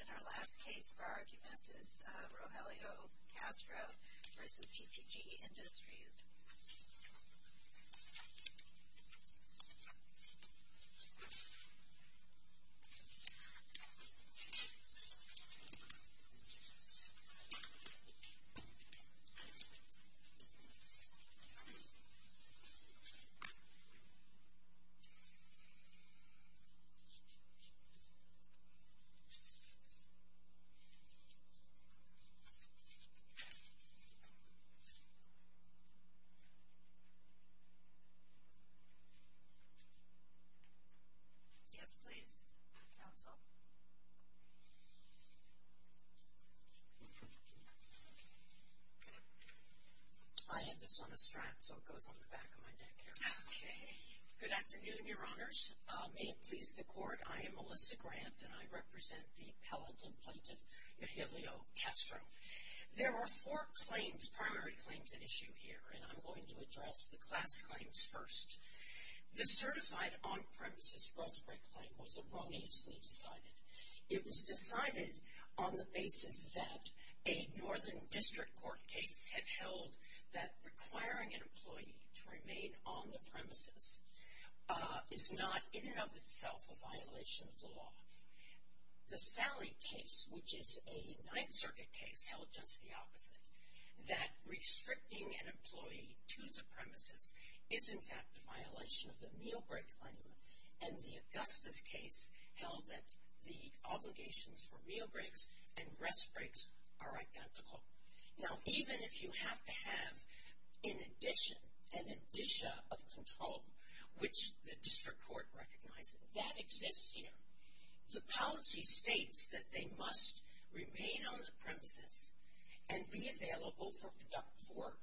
And our last case for our argument is Rogelio Castro v. PPG Industries. Yes, please, counsel. I have this on a strap, so it goes on the back of my neck here. Okay. Good afternoon, your honors. May it please the court. I am Melissa Grant, and I represent the pelleted plaintiff Rogelio Castro. There are four claims, primary claims at issue here, and I'm going to address the class claims first. The certified on-premises growth rate claim was erroneously decided. It was decided on the basis that a Northern District Court case had held that requiring an employee to remain on the premises is not in and of itself a violation of the law. The Salley case, which is a Ninth Circuit case held just the opposite, that restricting an employee to the premises is in fact a violation of the meal break claim, and the Augustus case held that the obligations for meal breaks and rest breaks are identical. Now, even if you have to have an addition, an addition of control, which the District Court recognizes, that exists here. The policy states that they must remain on the premises and be available for productive work,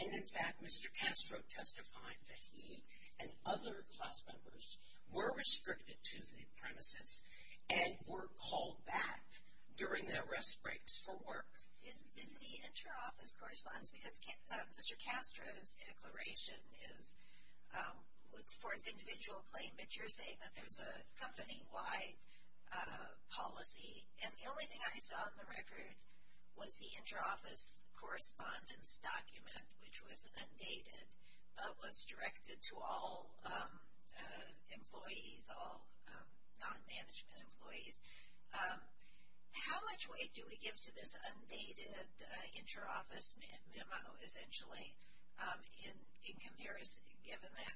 and in fact Mr. Castro testified that he and other class members were restricted to the premises and were called back during their rest breaks for work. Is the inter-office correspondence, because Mr. Castro's declaration is, it supports individual claim, but you're saying that there's a company-wide policy, and the only thing I saw in the record was the inter-office correspondence document, which was undated, but was directed to all employees, all non-management employees. How much weight do we give to this undated inter-office memo, essentially, in comparison, given that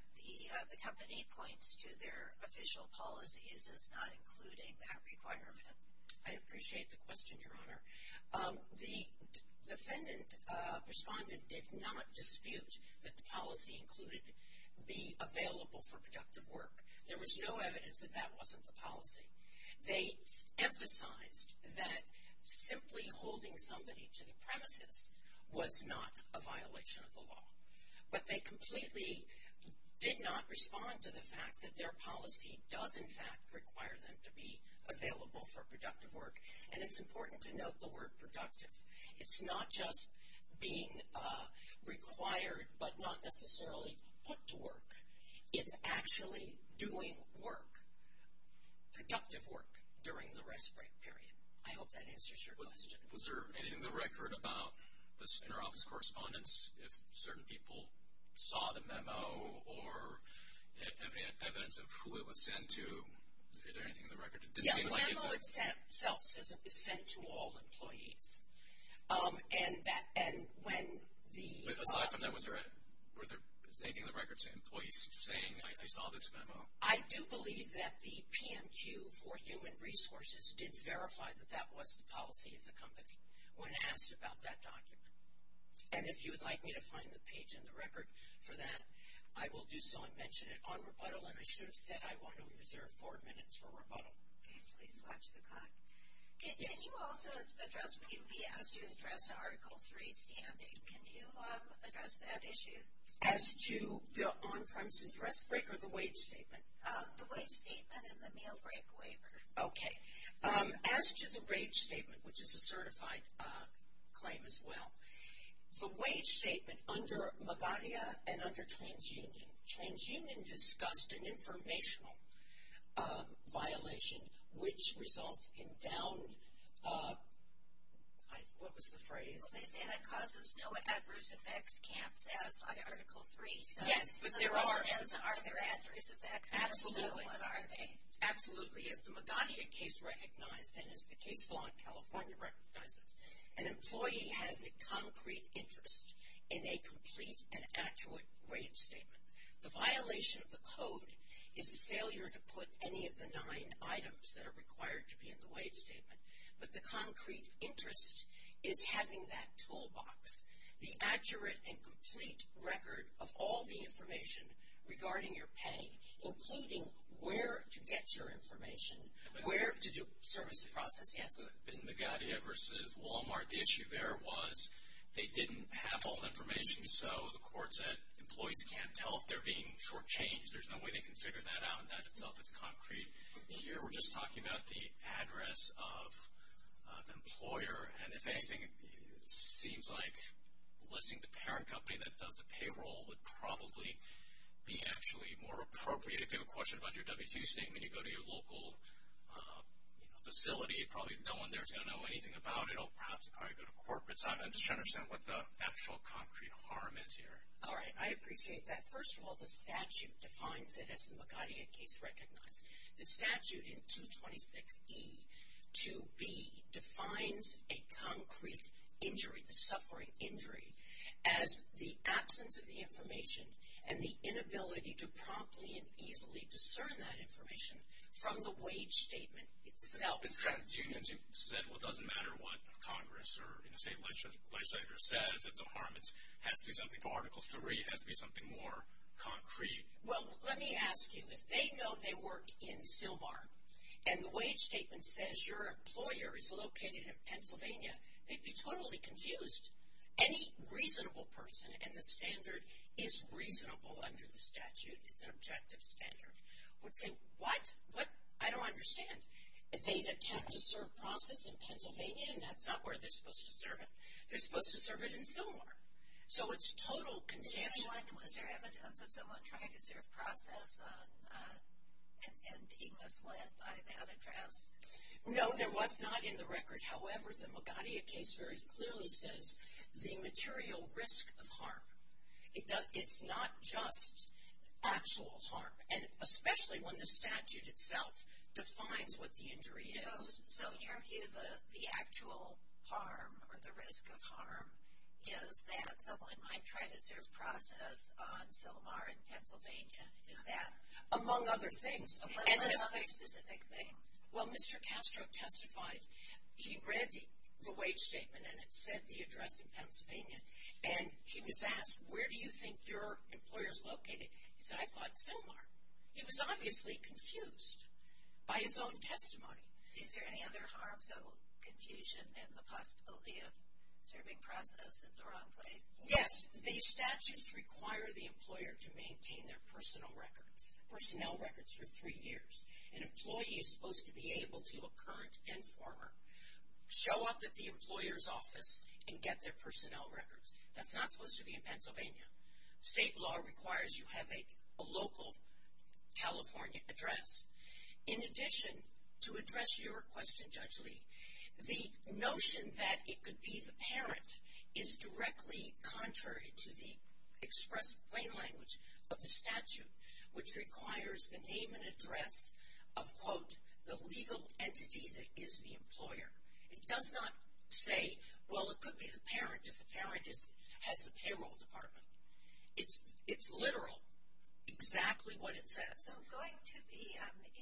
the company points to their official policies as not including that requirement? I appreciate the question, Your Honor. The defendant, respondent, did not dispute that the policy included be available for productive work. There was no evidence that that wasn't the policy. They emphasized that simply holding somebody to the premises was not a violation of the law, but they completely did not respond to the fact that their policy does, in fact, require them to be available for productive work, and it's important to note the word productive. It's not just being required but not necessarily put to work. It's actually doing work, productive work, during the rest break period. I hope that answers your question. Was there anything in the record about this inter-office correspondence? If certain people saw the memo or evidence of who it was sent to, is there anything in the record? Yeah, the memo itself is sent to all employees, and when the- But aside from that, was there anything in the record saying employees saw this memo? I do believe that the PMQ for human resources did verify that that was the policy of the company when asked about that document, and if you would like me to find the page in the record for that, I will do so and mention it on rebuttal, and I should have said I want to reserve four minutes for rebuttal. Please watch the clock. Did you also address when you were asked to address Article 3 standings, can you address that issue? As to the on-premises rest break or the wage statement? The wage statement and the meal break waiver. Okay. As to the wage statement, which is a certified claim as well, the wage statement under MAGARIA and under TransUnion, TransUnion discussed an informational violation which results in downed- what was the phrase? Well, they say that causes no adverse effects, can't satisfy Article 3. Yes, but there are. So, are there adverse effects? Absolutely. What are they? Absolutely. As the MAGARIA case recognized and as the case law in California recognizes, an employee has a concrete interest in a complete and accurate wage statement. The violation of the code is a failure to put any of the nine items that are required to be in the wage statement, but the concrete interest is having that toolbox, the accurate and complete record of all the information regarding your pay, including where to get your information, where to service the process. Yes. In the MAGARIA versus Walmart, the issue there was they didn't have all the information, so the court said employees can't tell if they're being shortchanged. There's no way they can figure that out, and that itself is concrete. Here we're just talking about the address of the employer, and if anything, it seems like listing the parent company that does the payroll would probably be actually more appropriate. If you have a question about your W-2 statement, you go to your local facility, probably no one there is going to know anything about it. Or perhaps I go to corporate. I'm just trying to understand what the actual concrete harm is here. All right. I appreciate that. First of all, the statute defines it, as the MAGARIA case recognized. The statute in 226E-2B defines a concrete injury, the suffering injury, as the absence of the information and the inability to promptly and easily discern that information from the wage statement itself. With trans-unions, you said, well, it doesn't matter what Congress or, you know, say legislature says it's a harm. It has to be something for Article 3. It has to be something more concrete. Well, let me ask you. If they know they work in Sylmar, and the wage statement says your employer is located in Pennsylvania, they'd be totally confused. Any reasonable person, and the standard is reasonable under the statute, it's an objective standard, would say, what? What? I don't understand. They attempt to serve process in Pennsylvania, and that's not where they're supposed to serve it. They're supposed to serve it in Sylmar. So it's total confusion. And was there evidence of someone trying to serve process and being misled by that address? No, there was not in the record. However, the Magadia case very clearly says the material risk of harm. It's not just actual harm, and especially when the statute itself defines what the injury is. So in your view, the actual harm or the risk of harm is that someone might try to serve process on Sylmar in Pennsylvania, is that? Among other things. Among other specific things. Well, Mr. Castro testified. He read the wage statement, and it said the address in Pennsylvania. And he was asked, where do you think your employer is located? He said, I thought Sylmar. He was obviously confused by his own testimony. Is there any other harms of confusion and the possibility of serving process at the wrong place? Yes. The statutes require the employer to maintain their personnel records for three years. An employee is supposed to be able to, a current and former, show up at the employer's office and get their personnel records. That's not supposed to be in Pennsylvania. State law requires you have a local California address. In addition, to address your question, Judge Lee, the notion that it could be the parent is directly contrary to the express plain language of the statute, which requires the name and address of, quote, the legal entity that is the employer. It does not say, well, it could be the parent if the parent has the payroll department. It's literal, exactly what it says. Can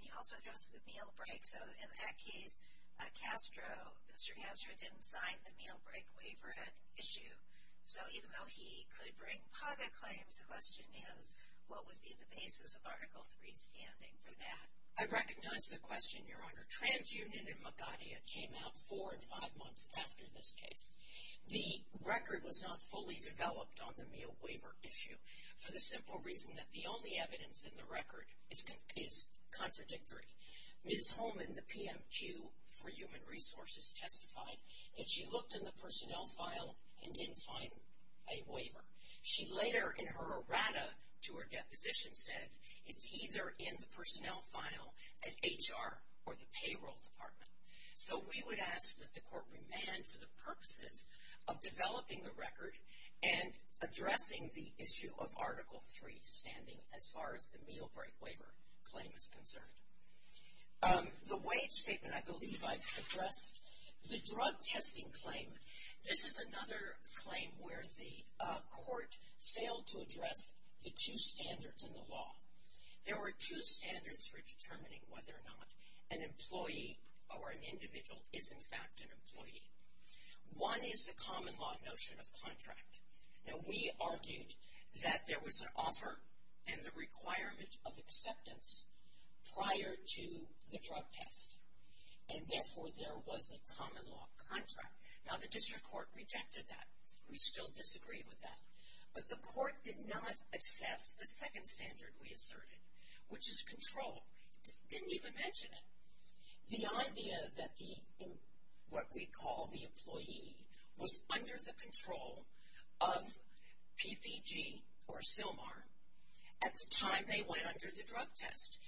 you also address the meal break? So, in that case, Mr. Castro didn't sign the meal break waiver at issue. So, even though he could bring PAGA claims, the question is, what would be the basis of Article III standing for that? I recognize the question, Your Honor. TransUnion in Magadha came out four and five months after this case. The record was not fully developed on the meal waiver issue for the simple reason that the only evidence in the record is contradictory. Ms. Holman, the PMQ for Human Resources, testified that she looked in the personnel file and didn't find a waiver. She later, in her errata to her deposition, said, it's either in the personnel file at HR or the payroll department. So, we would ask that the court remand for the purposes of developing the record and addressing the issue of Article III standing as far as the meal break waiver claim is concerned. The wage statement, I believe I've addressed. The drug testing claim, this is another claim where the court failed to address the two standards in the law. There were two standards for determining whether or not an employee or an individual is, in fact, an employee. One is the common law notion of contract. Now, we argued that there was an offer and the requirement of acceptance prior to the drug test. And, therefore, there was a common law contract. Now, the district court rejected that. We still disagree with that. But the court did not assess the second standard we asserted, which is control. Didn't even mention it. The idea that the, what we call the employee, was under the control of PPG or SILMAR. At the time they went under the drug test,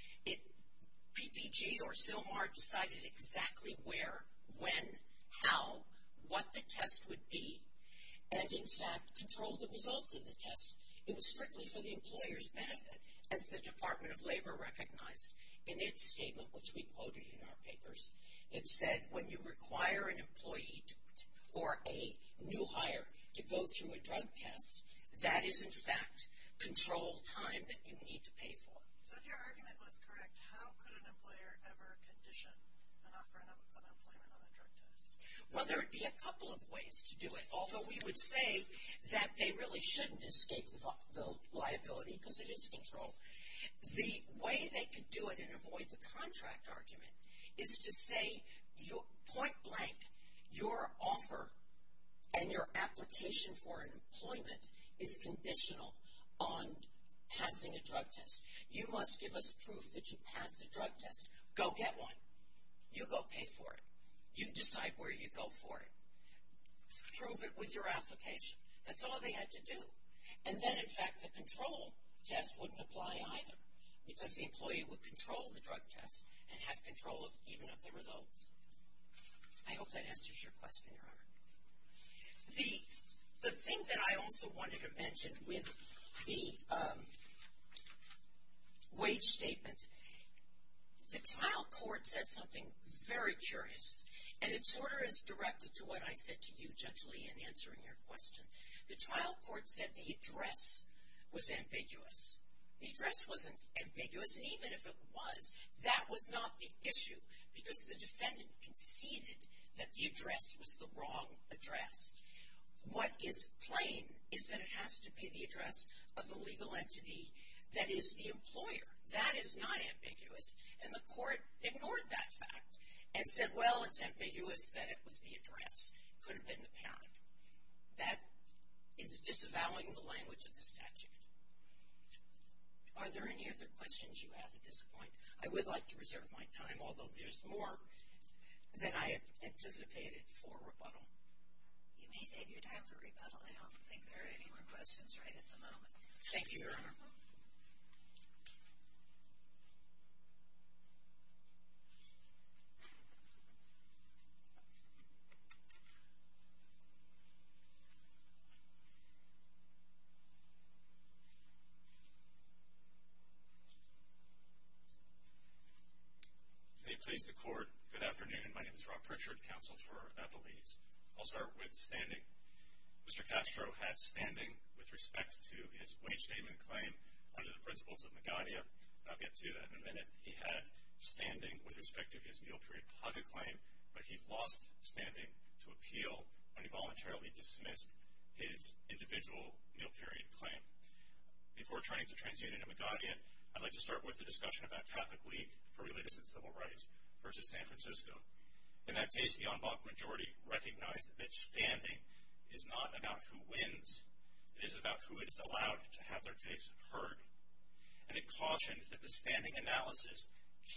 PPG or SILMAR decided exactly where, when, how, what the test would be, and, in fact, controlled the results of the test. It was strictly for the employer's benefit, as the Department of Labor recognized in its statement, which we quoted in our papers. It said, when you require an employee or a new hire to go through a drug test, that is, in fact, control time that you need to pay for. So, if your argument was correct, how could an employer ever condition and offer unemployment on a drug test? Well, there would be a couple of ways to do it. Although, we would say that they really shouldn't escape the liability, because it is control. The way they could do it and avoid the contract argument is to say, point blank, your offer and your application for unemployment is conditional on passing a drug test. You must give us proof that you passed a drug test. Go get one. You go pay for it. You decide where you go for it. Prove it with your application. That's all they had to do. And then, in fact, the control test wouldn't apply either, because the employee would control the drug test and have control even of the results. I hope that answers your question, Your Honor. The thing that I also wanted to mention with the wage statement, the trial court said something very curious, and it sort of is directed to what I said to you, Judge Lee, in answering your question. The trial court said the address was ambiguous. The address wasn't ambiguous, and even if it was, that was not the issue, because the defendant conceded that the address was the wrong address. What is plain is that it has to be the address of the legal entity that is the employer. That is not ambiguous. And the court ignored that fact and said, well, it's ambiguous that it was the address. It could have been the parent. That is disavowing the language of the statute. Are there any other questions you have at this point? I would like to reserve my time, although there's more than I anticipated for rebuttal. You may save your time for rebuttal. I don't think there are any more questions right at the moment. Thank you, Your Honor. Thank you. May it please the Court, good afternoon. My name is Rob Pritchard, Counsel for Appellees. I'll start with standing. Mr. Castro had standing with respect to his wage statement claim under the principles of Magadha. I'll get to that in a minute. He had standing with respect to his meal period paga claim, but he lost standing to appeal when he voluntarily dismissed his individual meal period claim. Before turning to TransUnion and Magadha, I'd like to start with the discussion about Catholic League for Religious and Civil Rights versus San Francisco. In that case, the en banc majority recognized that standing is not about who wins. It is about who is allowed to have their case heard. And it cautioned that the standing analysis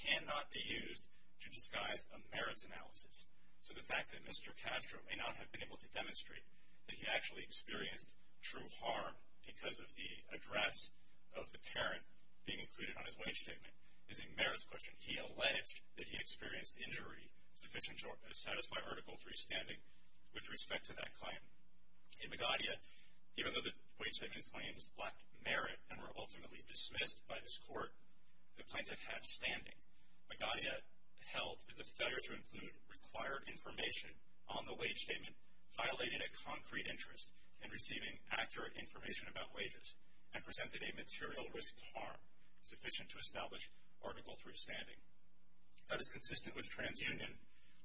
cannot be used to disguise a merits analysis. So the fact that Mr. Castro may not have been able to demonstrate that he actually experienced true harm because of the address of the parent being included on his wage statement is a merits question. He alleged that he experienced injury sufficient to satisfy Article III standing with respect to that claim. In Magadha, even though the wage statement claims lacked merit and were ultimately dismissed by this court, the plaintiff had standing. Magadha held that the failure to include required information on the wage statement violated a concrete interest in receiving accurate information about wages and presented a material risk to harm sufficient to establish Article III standing. That is consistent with TransUnion,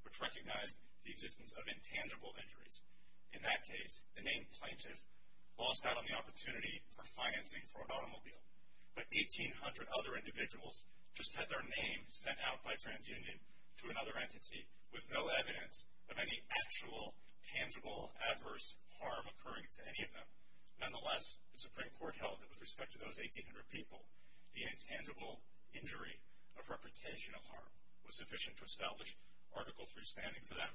which recognized the existence of intangible injuries. In that case, the named plaintiff lost out on the opportunity for financing for an automobile. But 1,800 other individuals just had their name sent out by TransUnion to another entity with no evidence of any actual tangible adverse harm occurring to any of them. Nonetheless, the Supreme Court held that with respect to those 1,800 people, the intangible injury of reputation of harm was sufficient to establish Article III standing for them.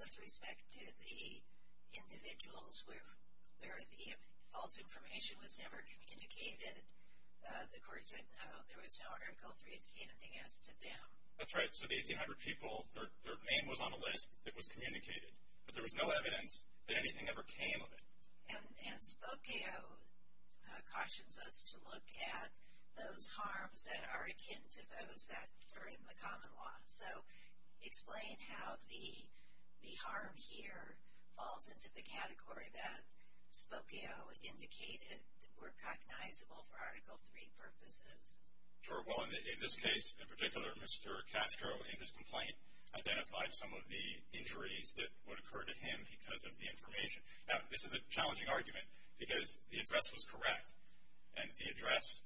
With respect to the individuals where the false information was never communicated, the court said no, there was no Article III standing as to them. That's right. So the 1,800 people, their name was on a list that was communicated, but there was no evidence that anything ever came of it. And Spokeo cautions us to look at those harms that are akin to those that are in the common law. So explain how the harm here falls into the category that Spokeo indicated were cognizable for Article III purposes. Sure. Well, in this case, in particular, Mr. Castro, in his complaint, identified some of the injuries that would occur to him because of the information. Now, this is a challenging argument because the address was correct, and the address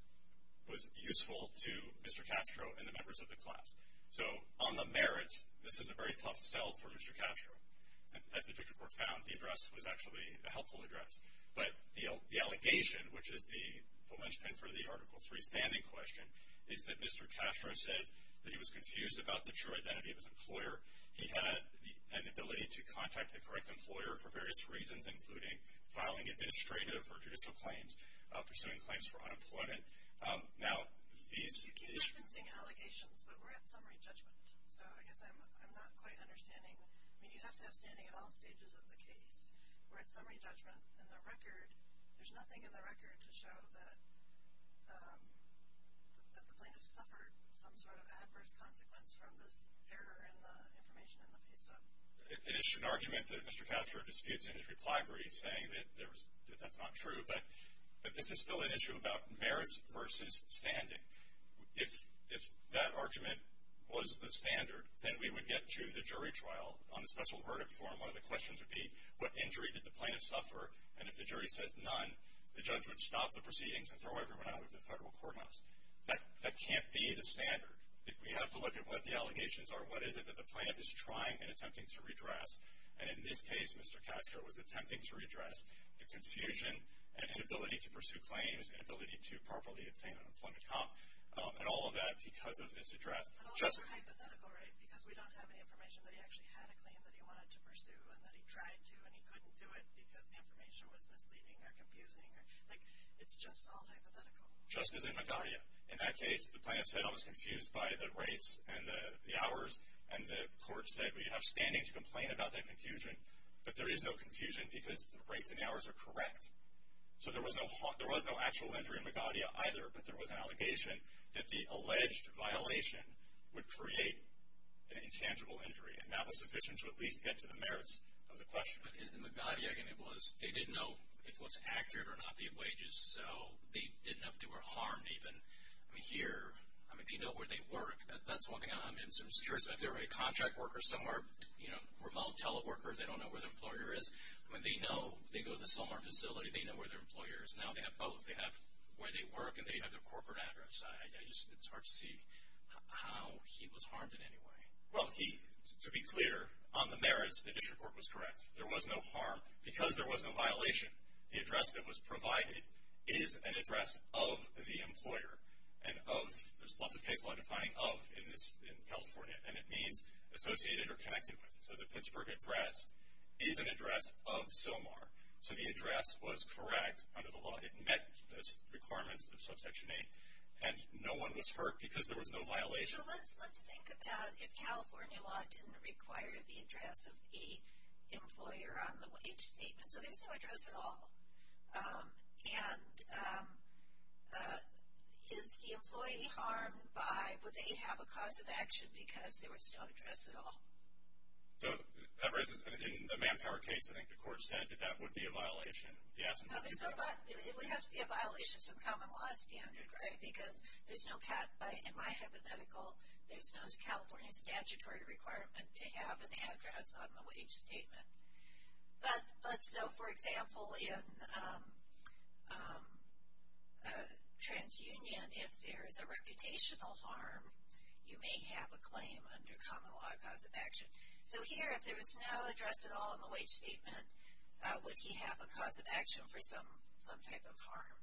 was useful to Mr. Castro and the members of the class. So on the merits, this is a very tough sell for Mr. Castro. As the district court found, the address was actually a helpful address. But the allegation, which is the linchpin for the Article III standing question, is that Mr. Castro said that he was confused about the true identity of his employer. He had an ability to contact the correct employer for various reasons, including filing administrative or judicial claims, pursuing claims for unemployment. You keep referencing allegations, but we're at summary judgment. So I guess I'm not quite understanding. I mean, you have to have standing at all stages of the case. We're at summary judgment, and there's nothing in the record to show that the plaintiff suffered some sort of adverse consequence from this error in the information in the pay stub. It is an argument that Mr. Castro disputes in his reply brief, saying that that's not true. But this is still an issue about merits versus standing. If that argument was the standard, then we would get to the jury trial on the special verdict form. One of the questions would be, what injury did the plaintiff suffer? And if the jury says none, the judge would stop the proceedings and throw everyone out of the federal courthouse. That can't be the standard. We have to look at what the allegations are. What is it that the plaintiff is trying and attempting to redress? And in this case, Mr. Castro was attempting to redress the confusion and inability to pursue claims, inability to properly obtain an employment comp, and all of that because of this address. And also hypothetical, right? Because we don't have any information that he actually had a claim that he wanted to pursue and that he tried to and he couldn't do it because the information was misleading or confusing. Like, it's just all hypothetical. Just as in Medallia. In that case, the plaintiff said, I was confused by the rates and the hours, and the court said, well, you have standing to complain about that confusion, but there is no confusion because the rates and hours are correct. So there was no actual injury in Medallia either, but there was an allegation that the alleged violation would create an intangible injury, and that was sufficient to at least get to the merits of the question. But in Medallia, again, they didn't know if it was accurate or not, the wages, so they didn't know if they were harmed even. I mean, here, I mean, they know where they work. That's one thing I'm curious about. If they're a contract worker somewhere, you know, remote teleworker, they don't know where their employer is. I mean, they know. They go to the Selmar facility. They know where their employer is. Now they have both. They have where they work and they have their corporate address. It's hard to see how he was harmed in any way. Well, to be clear, on the merits, the district court was correct. There was no harm. Because there was no violation, the address that was provided is an address of the employer and of, there's lots of case law defining of in California, and it means associated or connected with. So the Pittsburgh address is an address of Selmar. So the address was correct under the law. It met the requirements of Subsection 8. And no one was hurt because there was no violation. So let's think about if California law didn't require the address of the employer on the wage statement. So there's no address at all. And is the employee harmed by, would they have a cause of action because there was no address at all? So that raises, in the manpower case, I think the court said that that would be a violation. No, there's no violation. It would have to be a violation of some common law standard, right, because there's no, in my hypothetical, there's no California statutory requirement to have an address on the wage statement. But so, for example, in a transunion, if there is a reputational harm, you may have a claim under common law cause of action. So here, if there was no address at all on the wage statement, would he have a cause of action for some type of harm?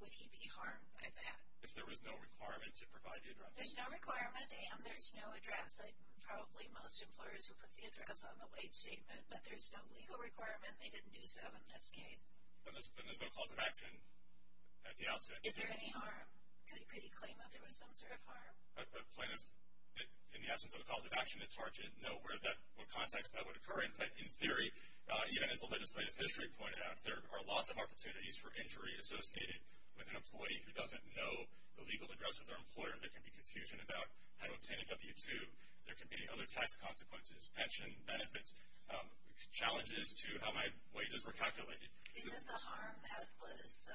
Would he be harmed by that? If there was no requirement to provide the address. There's no requirement, and there's no address. Like probably most employers who put the address on the wage statement, but there's no legal requirement. They didn't do so in this case. Then there's no cause of action at the outset. Is there any harm? Could he claim that there was some sort of harm? A claim of, in the absence of a cause of action, it's hard to know what context that would occur in. But in theory, even as the legislative history pointed out, there are lots of opportunities for injury associated with an employee who doesn't know the legal address of their employer. There can be confusion about how to obtain a W-2. There can be other tax consequences, pension benefits. Challenges to how my wages were calculated. Is this a harm that was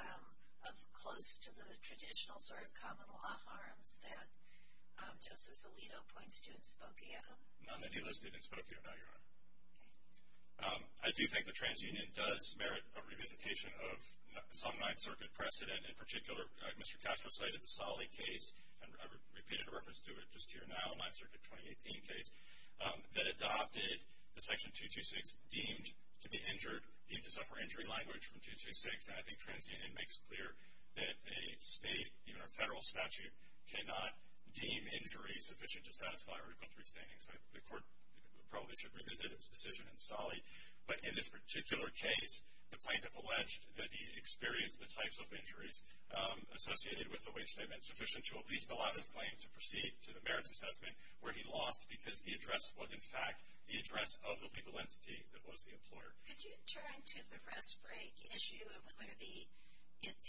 close to the traditional sort of common law harms that Justice Alito points to in Spokane? None that he listed in Spokane, Your Honor. I do think the TransUnion does merit a revisitation of some Ninth Circuit precedent. In particular, Mr. Castro cited the Salih case, and I repeated a reference to it just here now, Ninth Circuit 2018 case, that adopted the Section 226 deemed to be injured, deemed to suffer injury language from 226. And I think TransUnion makes clear that a state, even a federal statute, cannot deem injury sufficient to satisfy Article III standings. The court probably should revisit its decision in Salih. But in this particular case, the plaintiff alleged that he experienced the types of injuries associated with the wage statement sufficient to at least allow this claim to proceed to the merits assessment, where he lost because the address was, in fact, the address of the legal entity that was the employer. Could you turn to the rest break issue?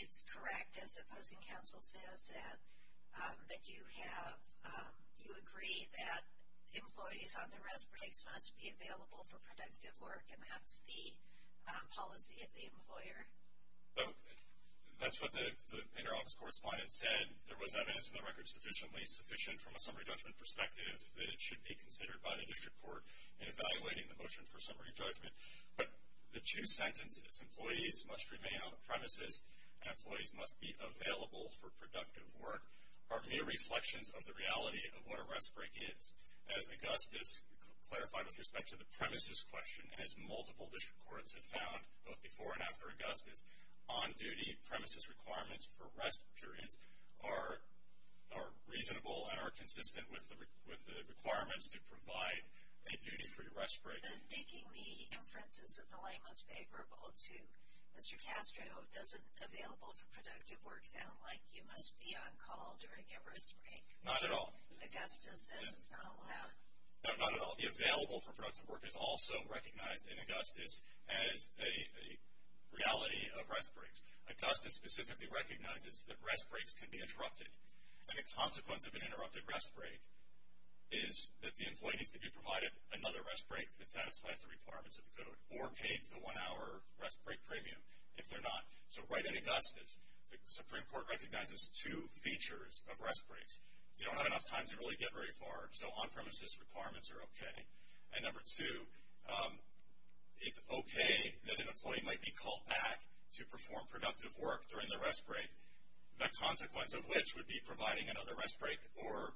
It's correct, as the opposing counsel says, that you agree that employees on the rest breaks must be available for productive work, and that's the policy of the employer. That's what the interoffice correspondent said. There was evidence in the record sufficiently sufficient from a summary judgment perspective that it should be considered by the district court in evaluating the motion for summary judgment. But the two sentences, employees must remain on the premises and employees must be available for productive work, are mere reflections of the reality of what a rest break is. As Augustus clarified with respect to the premises question, and as multiple district courts have found both before and after Augustus, on-duty premises requirements for rest periods are reasonable and are consistent with the requirements to provide a duty-free rest break. Then making the inferences of the laymost favorable to Mr. Castro, doesn't available for productive work sound like you must be on call during your rest break? Not at all. Augustus says it's not allowed. No, not at all. The available for productive work is also recognized in Augustus as a reality of rest breaks. Augustus specifically recognizes that rest breaks can be interrupted, and a consequence of an interrupted rest break is that the employee needs to be provided another rest break that satisfies the requirements of the code, or paid the one-hour rest break premium if they're not. So right in Augustus, the Supreme Court recognizes two features of rest breaks. You don't have enough time to really get very far, so on-premises requirements are okay. And number two, it's okay that an employee might be called back to perform productive work during their rest break, the consequence of which would be providing another rest break or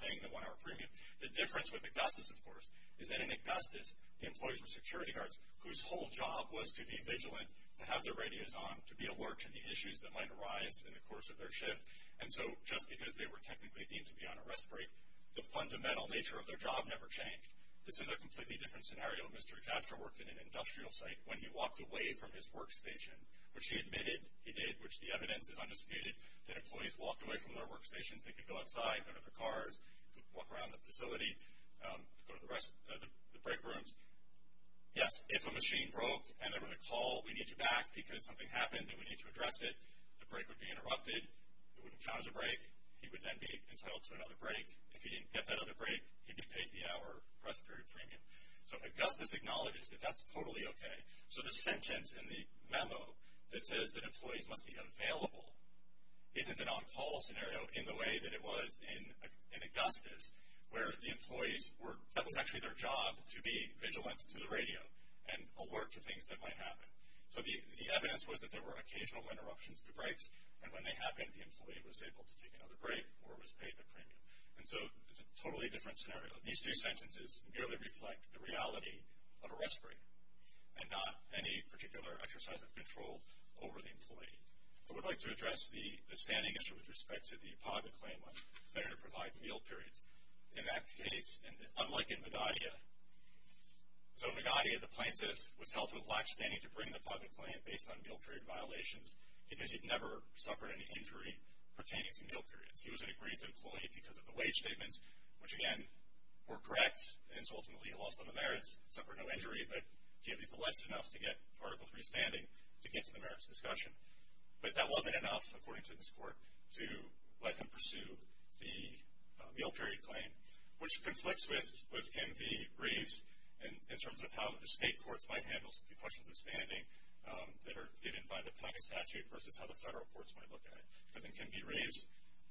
paying the one-hour premium. The difference with Augustus, of course, is that in Augustus, the employees were security guards, whose whole job was to be vigilant, to have their radios on, to be alert to the issues that might arise in the course of their shift. And so just because they were technically deemed to be on a rest break, the fundamental nature of their job never changed. This is a completely different scenario. Mr. Xavster worked in an industrial site. When he walked away from his workstation, which he admitted he did, which the evidence is undisputed, that employees walked away from their workstations. They could go outside, go to their cars, walk around the facility, go to the rest, the break rooms. Yes, if a machine broke and there was a call, we need you back because something happened and we need to address it. The break would be interrupted. It wouldn't count as a break. He would then be entitled to another break. If he didn't get that other break, he'd be paid the hour rest period premium. So Augustus acknowledges that that's totally okay. So the sentence in the memo that says that employees must be available isn't an on-call scenario in the way that it was in Augustus, where the employees were – that was actually their job to be vigilance to the radio and alert to things that might happen. So the evidence was that there were occasional interruptions to breaks, and when they happened, the employee was able to take another break or was paid the premium. And so it's a totally different scenario. These two sentences merely reflect the reality of a rest break and not any particular exercise of control over the employee. I would like to address the standing issue with respect to the PAGA claim of failure to provide meal periods. In that case, unlike in Medaglia – so in Medaglia, the plaintiff was held to have lackstanding to bring the PAGA claim based on meal period violations because he'd never suffered any injury pertaining to meal periods. He was an aggrieved employee because of the wage statements, which, again, were correct. And so ultimately he lost all the merits, suffered no injury, but he at least alleged enough to get Article III standing to get to the merits discussion. But that wasn't enough, according to this court, to let him pursue the meal period claim, which conflicts with Kim V. Reeves in terms of how the state courts might handle the questions of standing that are given by the PAGA statute versus how the federal courts might look at it. Because in Kim V. Reeves,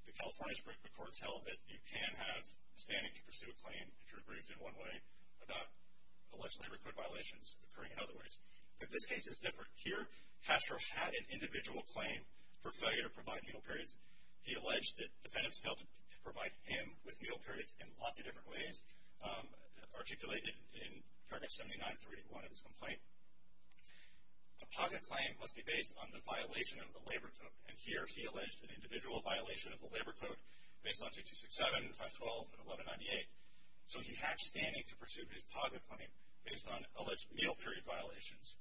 the California's group of courts held that you can have standing to pursue a claim if you're aggrieved in one way without allegedly record violations occurring in other ways. But this case is different. Here, Castro had an individual claim for failure to provide meal periods. He alleged that defendants failed to provide him with meal periods in lots of different ways, articulated in Target 79-381 of his complaint. A PAGA claim must be based on the violation of the labor code, and here he alleged an individual violation of the labor code based on 6267 and 512 and 1198. So he had standing to pursue his PAGA claim based on alleged meal period violations.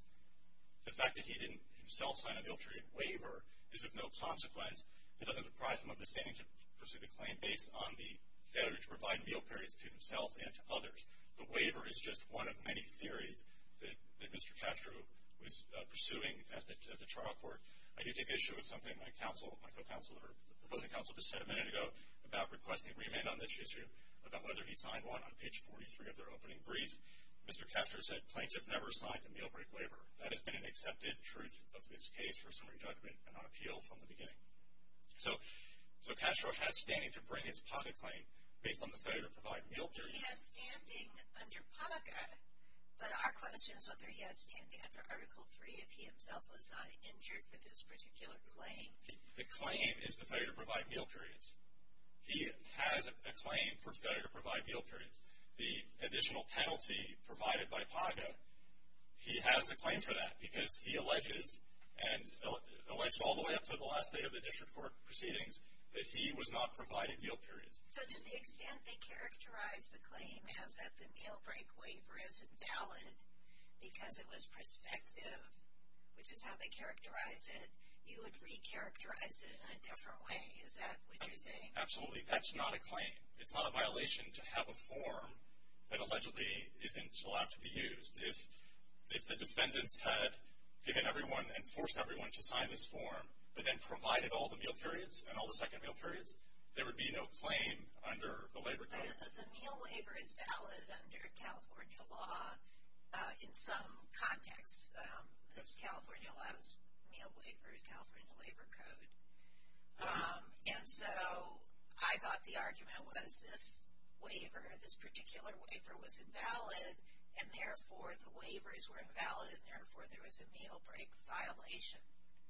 The fact that he didn't himself sign a meal period waiver is of no consequence. It doesn't deprive him of the standing to pursue the claim based on the failure to provide meal periods to himself and to others. The waiver is just one of many theories that Mr. Castro was pursuing at the trial court. I do take issue with something my counsel, my co-counsel, or the opposing counsel just said a minute ago about requesting remand on this issue, about whether he signed one on page 43 of their opening brief. Mr. Castro said, Plaintiffs never signed a meal break waiver. That has been an accepted truth of this case for summary judgment and on appeal from the beginning. So Castro has standing to bring his PAGA claim based on the failure to provide meal periods. He has standing under PAGA, but our question is whether he has standing under Article III if he himself was not injured for this particular claim. The claim is the failure to provide meal periods. He has a claim for failure to provide meal periods. The additional penalty provided by PAGA, he has a claim for that because he alleges, and alleged all the way up to the last day of the district court proceedings, that he was not providing meal periods. So to the extent they characterize the claim as if the meal break waiver is invalid because it was prospective, which is how they characterize it, you would re-characterize it in a different way, is that what you're saying? Absolutely. That's not a claim. It's not a violation to have a form that allegedly isn't allowed to be used. If the defendants had given everyone and forced everyone to sign this form, but then provided all the meal periods and all the second meal periods, there would be no claim under the labor code. The meal waiver is valid under California law in some context. California law's meal waiver is California labor code. And so I thought the argument was this waiver, this particular waiver, was invalid, and therefore the waivers were invalid, and therefore there was a meal break violation.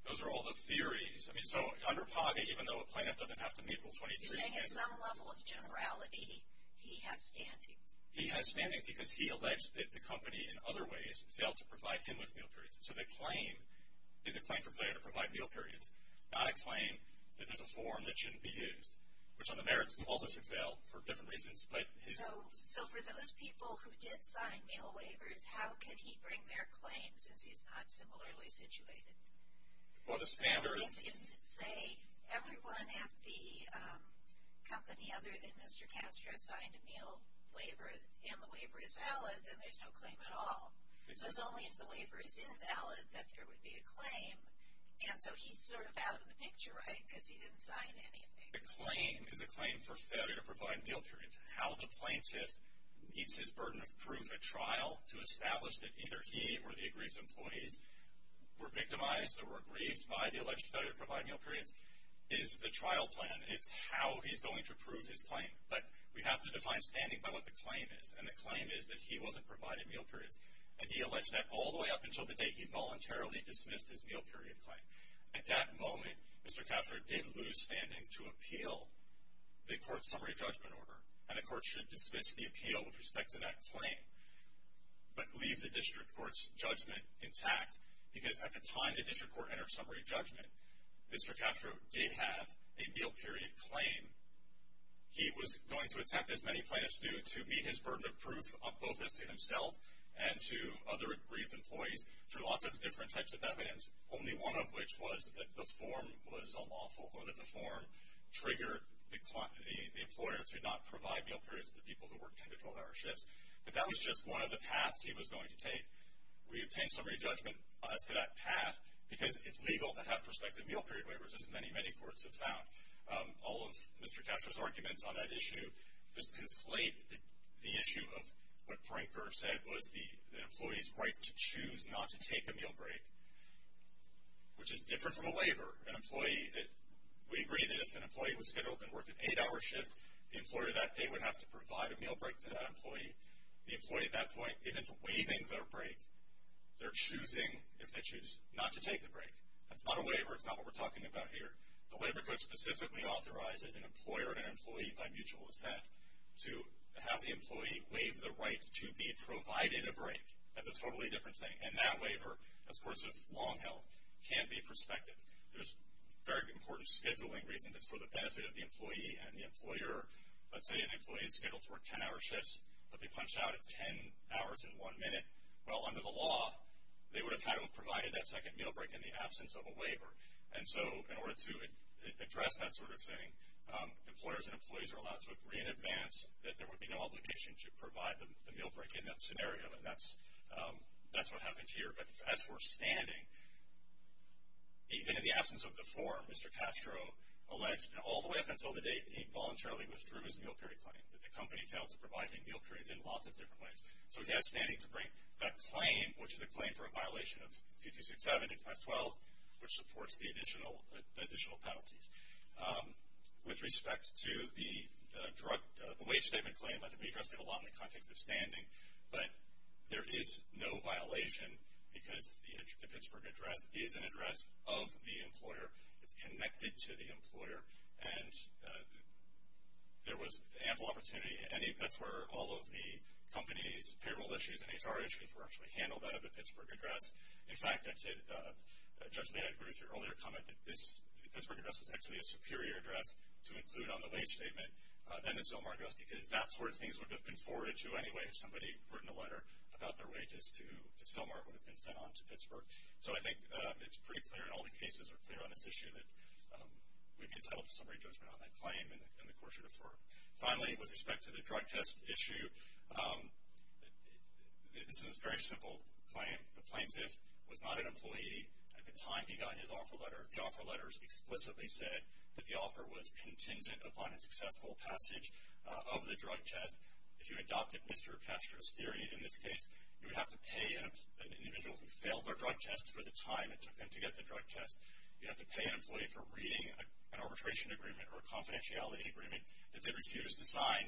Those are all the theories. I mean, so under PAGA, even though a plaintiff doesn't have to meet all 23 standards. You're saying at some level of generality he has standing. He has standing because he alleged that the company, in other ways, failed to provide him with meal periods. So the claim is a claim for failure to provide meal periods, not a claim that there's a form that shouldn't be used, which on the merits also should fail for different reasons. So for those people who did sign meal waivers, how could he bring their claim since he's not similarly situated? Well, the standard. If, say, everyone at the company other than Mr. Castro signed a meal waiver and the waiver is valid, then there's no claim at all. So it's only if the waiver is invalid that there would be a claim. And so he's sort of out of the picture, right, because he didn't sign any of the waivers. The claim is a claim for failure to provide meal periods. How the plaintiff meets his burden of proof at trial to establish that either he or the aggrieved employees were victimized or were aggrieved by the alleged failure to provide meal periods is the trial plan. It's how he's going to prove his claim. But we have to define standing by what the claim is, and the claim is that he wasn't provided meal periods. And he alleged that all the way up until the day he voluntarily dismissed his meal period claim. At that moment, Mr. Castro did lose standing to appeal the court's summary judgment order, and the court should dismiss the appeal with respect to that claim but leave the district court's judgment intact because at the time the district court entered summary judgment, Mr. Castro did have a meal period claim. He was going to attempt, as many plaintiffs do, to meet his burden of proof both as to himself and to other aggrieved employees through lots of different types of evidence, only one of which was that the form was unlawful or that the form triggered the employer to not provide meal periods to the people who were in control of our shifts. But that was just one of the paths he was going to take. We obtained summary judgment as to that path because it's legal to have prospective meal period waivers, as many, many courts have found. All of Mr. Castro's arguments on that issue just conflate the issue of what Pranker said was the employee's right to choose not to take a meal break, which is different from a waiver. We agree that if an employee was scheduled to work an eight-hour shift, the employer that day would have to provide a meal break to that employee. The employee at that point isn't waiving their break. They're choosing, if they choose, not to take the break. That's not a waiver. It's not what we're talking about here. The Labor Code specifically authorizes an employer and an employee by mutual assent to have the employee waive the right to be provided a break. That's a totally different thing. And that waiver, as courts have long held, can't be prospective. There's very important scheduling reasons. It's for the benefit of the employee and the employer. Let's say an employee is scheduled to work 10-hour shifts, but they punch out at 10 hours and 1 minute. Well, under the law, they would have had to have provided that second meal break in the absence of a waiver. And so in order to address that sort of thing, employers and employees are allowed to agree in advance that there would be no obligation to provide the meal break in that scenario. And that's what happened here. But as for standing, even in the absence of the form, Mr. Castro alleged all the way up until the day he voluntarily withdrew his meal period claim that the company failed to provide him meal periods in lots of different ways. So he had standing to bring that claim, which is a claim for a violation of P267 and 512, which supports the additional penalties. With respect to the wage statement claim, that can be addressed in the context of standing. But there is no violation because the Pittsburgh address is an address of the employer. It's connected to the employer. And there was ample opportunity. And that's where all of the company's payroll issues and HR issues were actually handled out of the Pittsburgh address. In fact, Judge Lee, I agree with your earlier comment that the Pittsburgh address was actually a superior address to include on the wage statement than the Selmar address because that's where things would have been forwarded to anyway if somebody had written a letter about their wages to Selmar. It would have been sent on to Pittsburgh. So I think it's pretty clear, and all the cases are clear on this issue, that we'd be entitled to some redressment on that claim in the course you defer. Finally, with respect to the drug test issue, this is a very simple claim. The plaintiff was not an employee at the time he got his offer letter. The offer letter explicitly said that the offer was contingent upon a successful passage of the drug test. If you adopted Mr. Pastra's theory in this case, you would have to pay an individual who failed their drug test for the time it took them to get the drug test. You'd have to pay an employee for reading an arbitration agreement or a confidentiality agreement that they refused to sign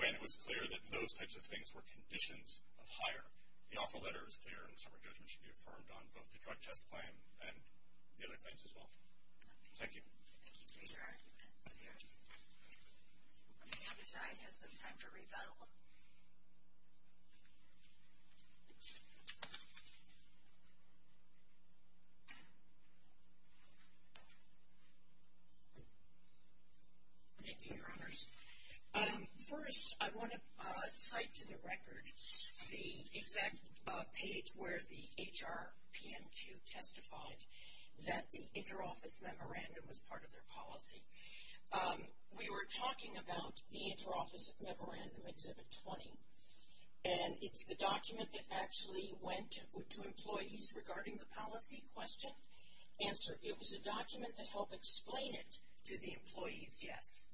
when it was clear that those types of things were conditions of hire. The offer letter is clear, and Selmar's judgment should be affirmed on both the drug test claim and the other claims as well. Thank you. Thank you for your argument. The other side has some time for rebuttal. Thank you, Your Honors. First, I want to cite to the record the exact page where the HR PMQ testified that the interoffice memorandum was part of their policy. We were talking about the interoffice memorandum, Exhibit 20, and it's the document that actually went to employees regarding the policy question. Answer, it was a document that helped explain it to the employees, yes.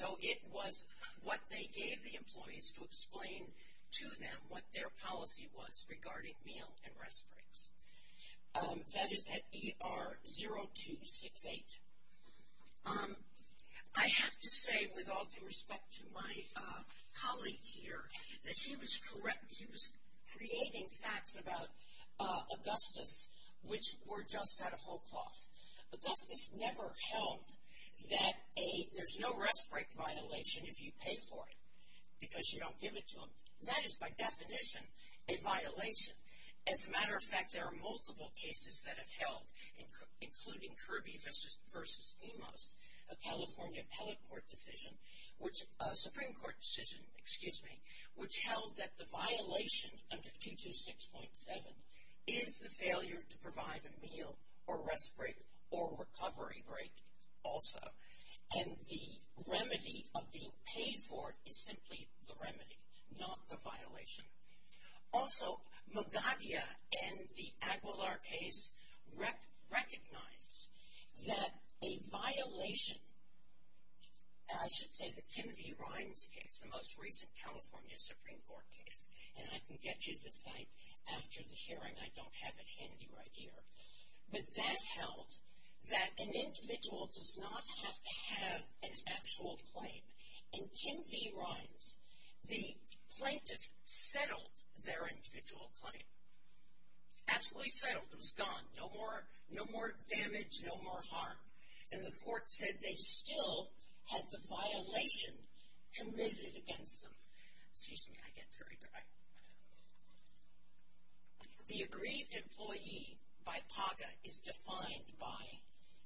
So, it was what they gave the employees to explain to them what their policy was regarding meal and rest breaks. That is at ER 0268. I have to say, with all due respect to my colleague here, that he was creating facts about Augustus, which were just out of whole cloth. Augustus never held that there's no rest break violation if you pay for it, because you don't give it to them. That is, by definition, a violation. As a matter of fact, there are multiple cases that have held, including Kirby v. Emos, a California appellate court decision, which, a Supreme Court decision, excuse me, which held that the violation under 226.7 is the failure to provide a meal or rest break or recovery break also. And the remedy of being paid for is simply the remedy, not the violation. Also, Magadia and the Aguilar case recognized that a violation, I should say the Kim V. Rimes case, the most recent California Supreme Court case, and I can get you the site after the hearing. I don't have it handy right here. But that held that an individual does not have to have an actual claim. In Kim V. Rimes, the plaintiff settled their individual claim. Absolutely settled. It was gone. No more damage, no more harm. And the court said they still had the violation committed against them. Excuse me, I get very dry. The aggrieved employee by PAGA is defined by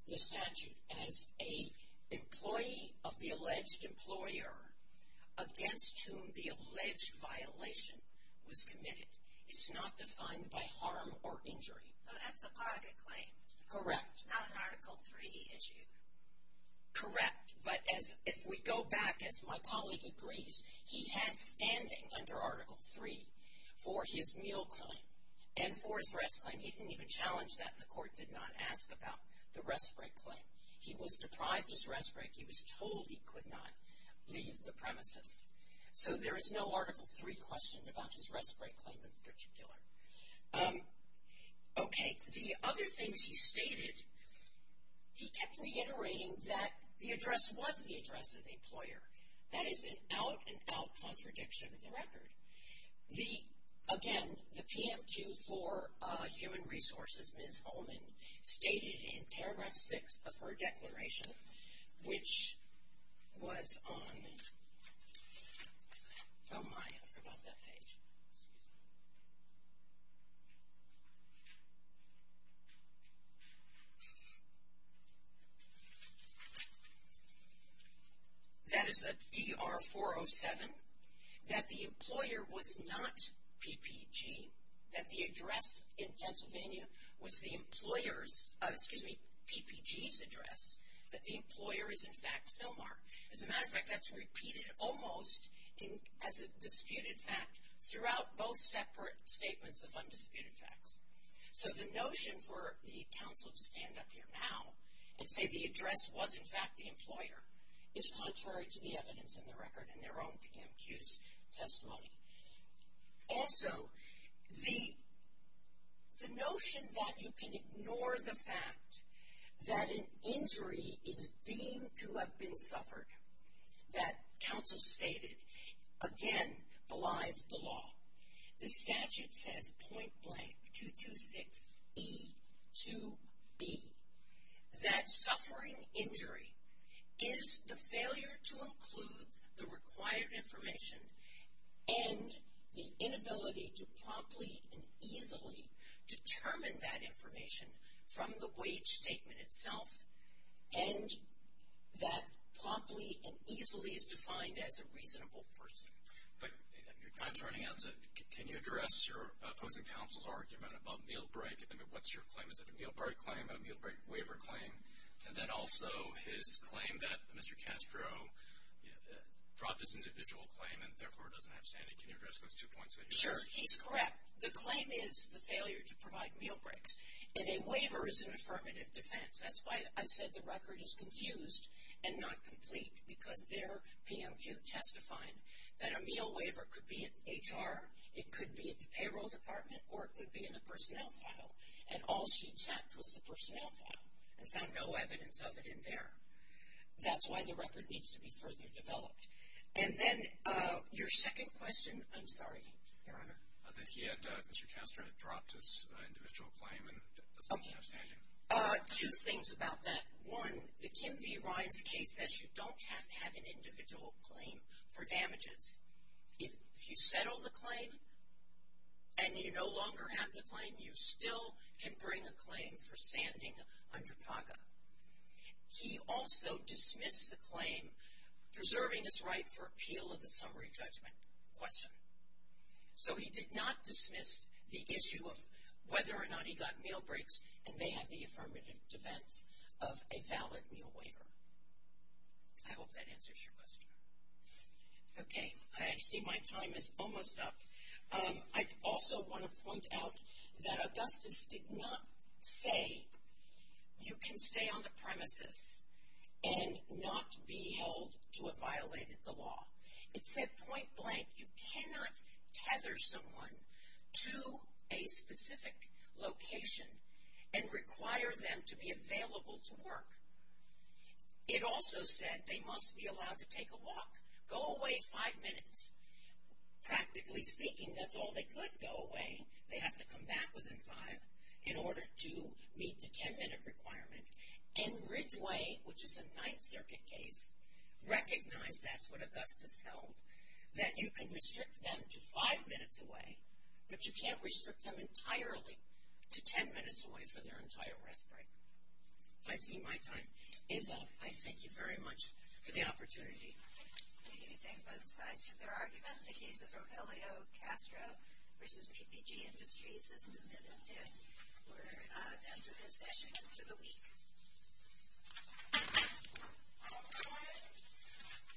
the statute as an employee of the alleged employer against whom the alleged violation was committed. It's not defined by harm or injury. That's a PAGA claim. Correct. Not an Article III issue. Correct. But if we go back, as my colleague agrees, he had standing under Article III for his meal claim and for his rest claim. He didn't even challenge that, and the court did not ask about the rest break claim. He was deprived his rest break. He was told he could not leave the premises. So there is no Article III question about his rest break claim in particular. Okay. The other things he stated, he kept reiterating that the address was the address of the employer. That is an out-and-out contradiction of the record. Again, the PMQ for Human Resources, Ms. Ullman, stated in paragraph 6 of her declaration, which was on, oh my, I forgot that page. Excuse me. That is a DR-407. That the employer was not PPG. That the address in Pennsylvania was the employer's, excuse me, PPG's address. That the employer is, in fact, Sylmar. As a matter of fact, that's repeated almost as a disputed fact throughout both separate statements of undisputed facts. So the notion for the counsel to stand up here now and say the address was, in fact, the employer, is contrary to the evidence in the record in their own PMQ's testimony. Also, the notion that you can ignore the fact that an injury is deemed to have been suffered, that counsel stated, again, belies the law. The statute says, point blank, 226E2B, that suffering injury is the failure to include the required information and the inability to promptly and easily determine that information from the wage statement itself. And that promptly and easily is defined as a reasonable person. But your time's running out, so can you address your opposing counsel's argument about meal break? I mean, what's your claim? Is it a meal break claim, a meal break waiver claim? And then also his claim that Mr. Castro dropped his individual claim and therefore doesn't have sanity. Can you address those two points that you raised? Sure. He's correct. The claim is the failure to provide meal breaks. And a waiver is an affirmative defense. That's why I said the record is confused and not complete, because their PMQ testified that a meal waiver could be at HR, it could be at the payroll department, or it could be in the personnel file. And all she checked was the personnel file and found no evidence of it in there. That's why the record needs to be further developed. And then your second question, I'm sorry, Your Honor. That he had, Mr. Castro had dropped his individual claim and doesn't have sanity. Two things about that. One, the Kim V. Ryan's case says you don't have to have an individual claim for damages. If you settle the claim and you no longer have the claim, you still can bring a claim for standing under PACA. He also dismissed the claim preserving his right for appeal of the summary judgment question. So he did not dismiss the issue of whether or not he got meal breaks and may have the affirmative defense of a valid meal waiver. I hope that answers your question. Okay. I see my time is almost up. I also want to point out that Augustus did not say you can stay on the premises and not be held to have violated the law. It said point blank you cannot tether someone to a specific location and require them to be available to work. It also said they must be allowed to take a walk. Go away five minutes. Practically speaking, that's all they could go away. They have to come back within five in order to meet the ten-minute requirement. And Ridgeway, which is a Ninth Circuit case, recognized that's what Augustus held, that you can restrict them to five minutes away, but you can't restrict them entirely to ten minutes away for their entire rest break. I see my time is up. I thank you very much for the opportunity. Thank you. Thank both sides for their argument. The case of Rogelio Castro v. PPG Industries is submitted. And we're done for this session and for the week. All right.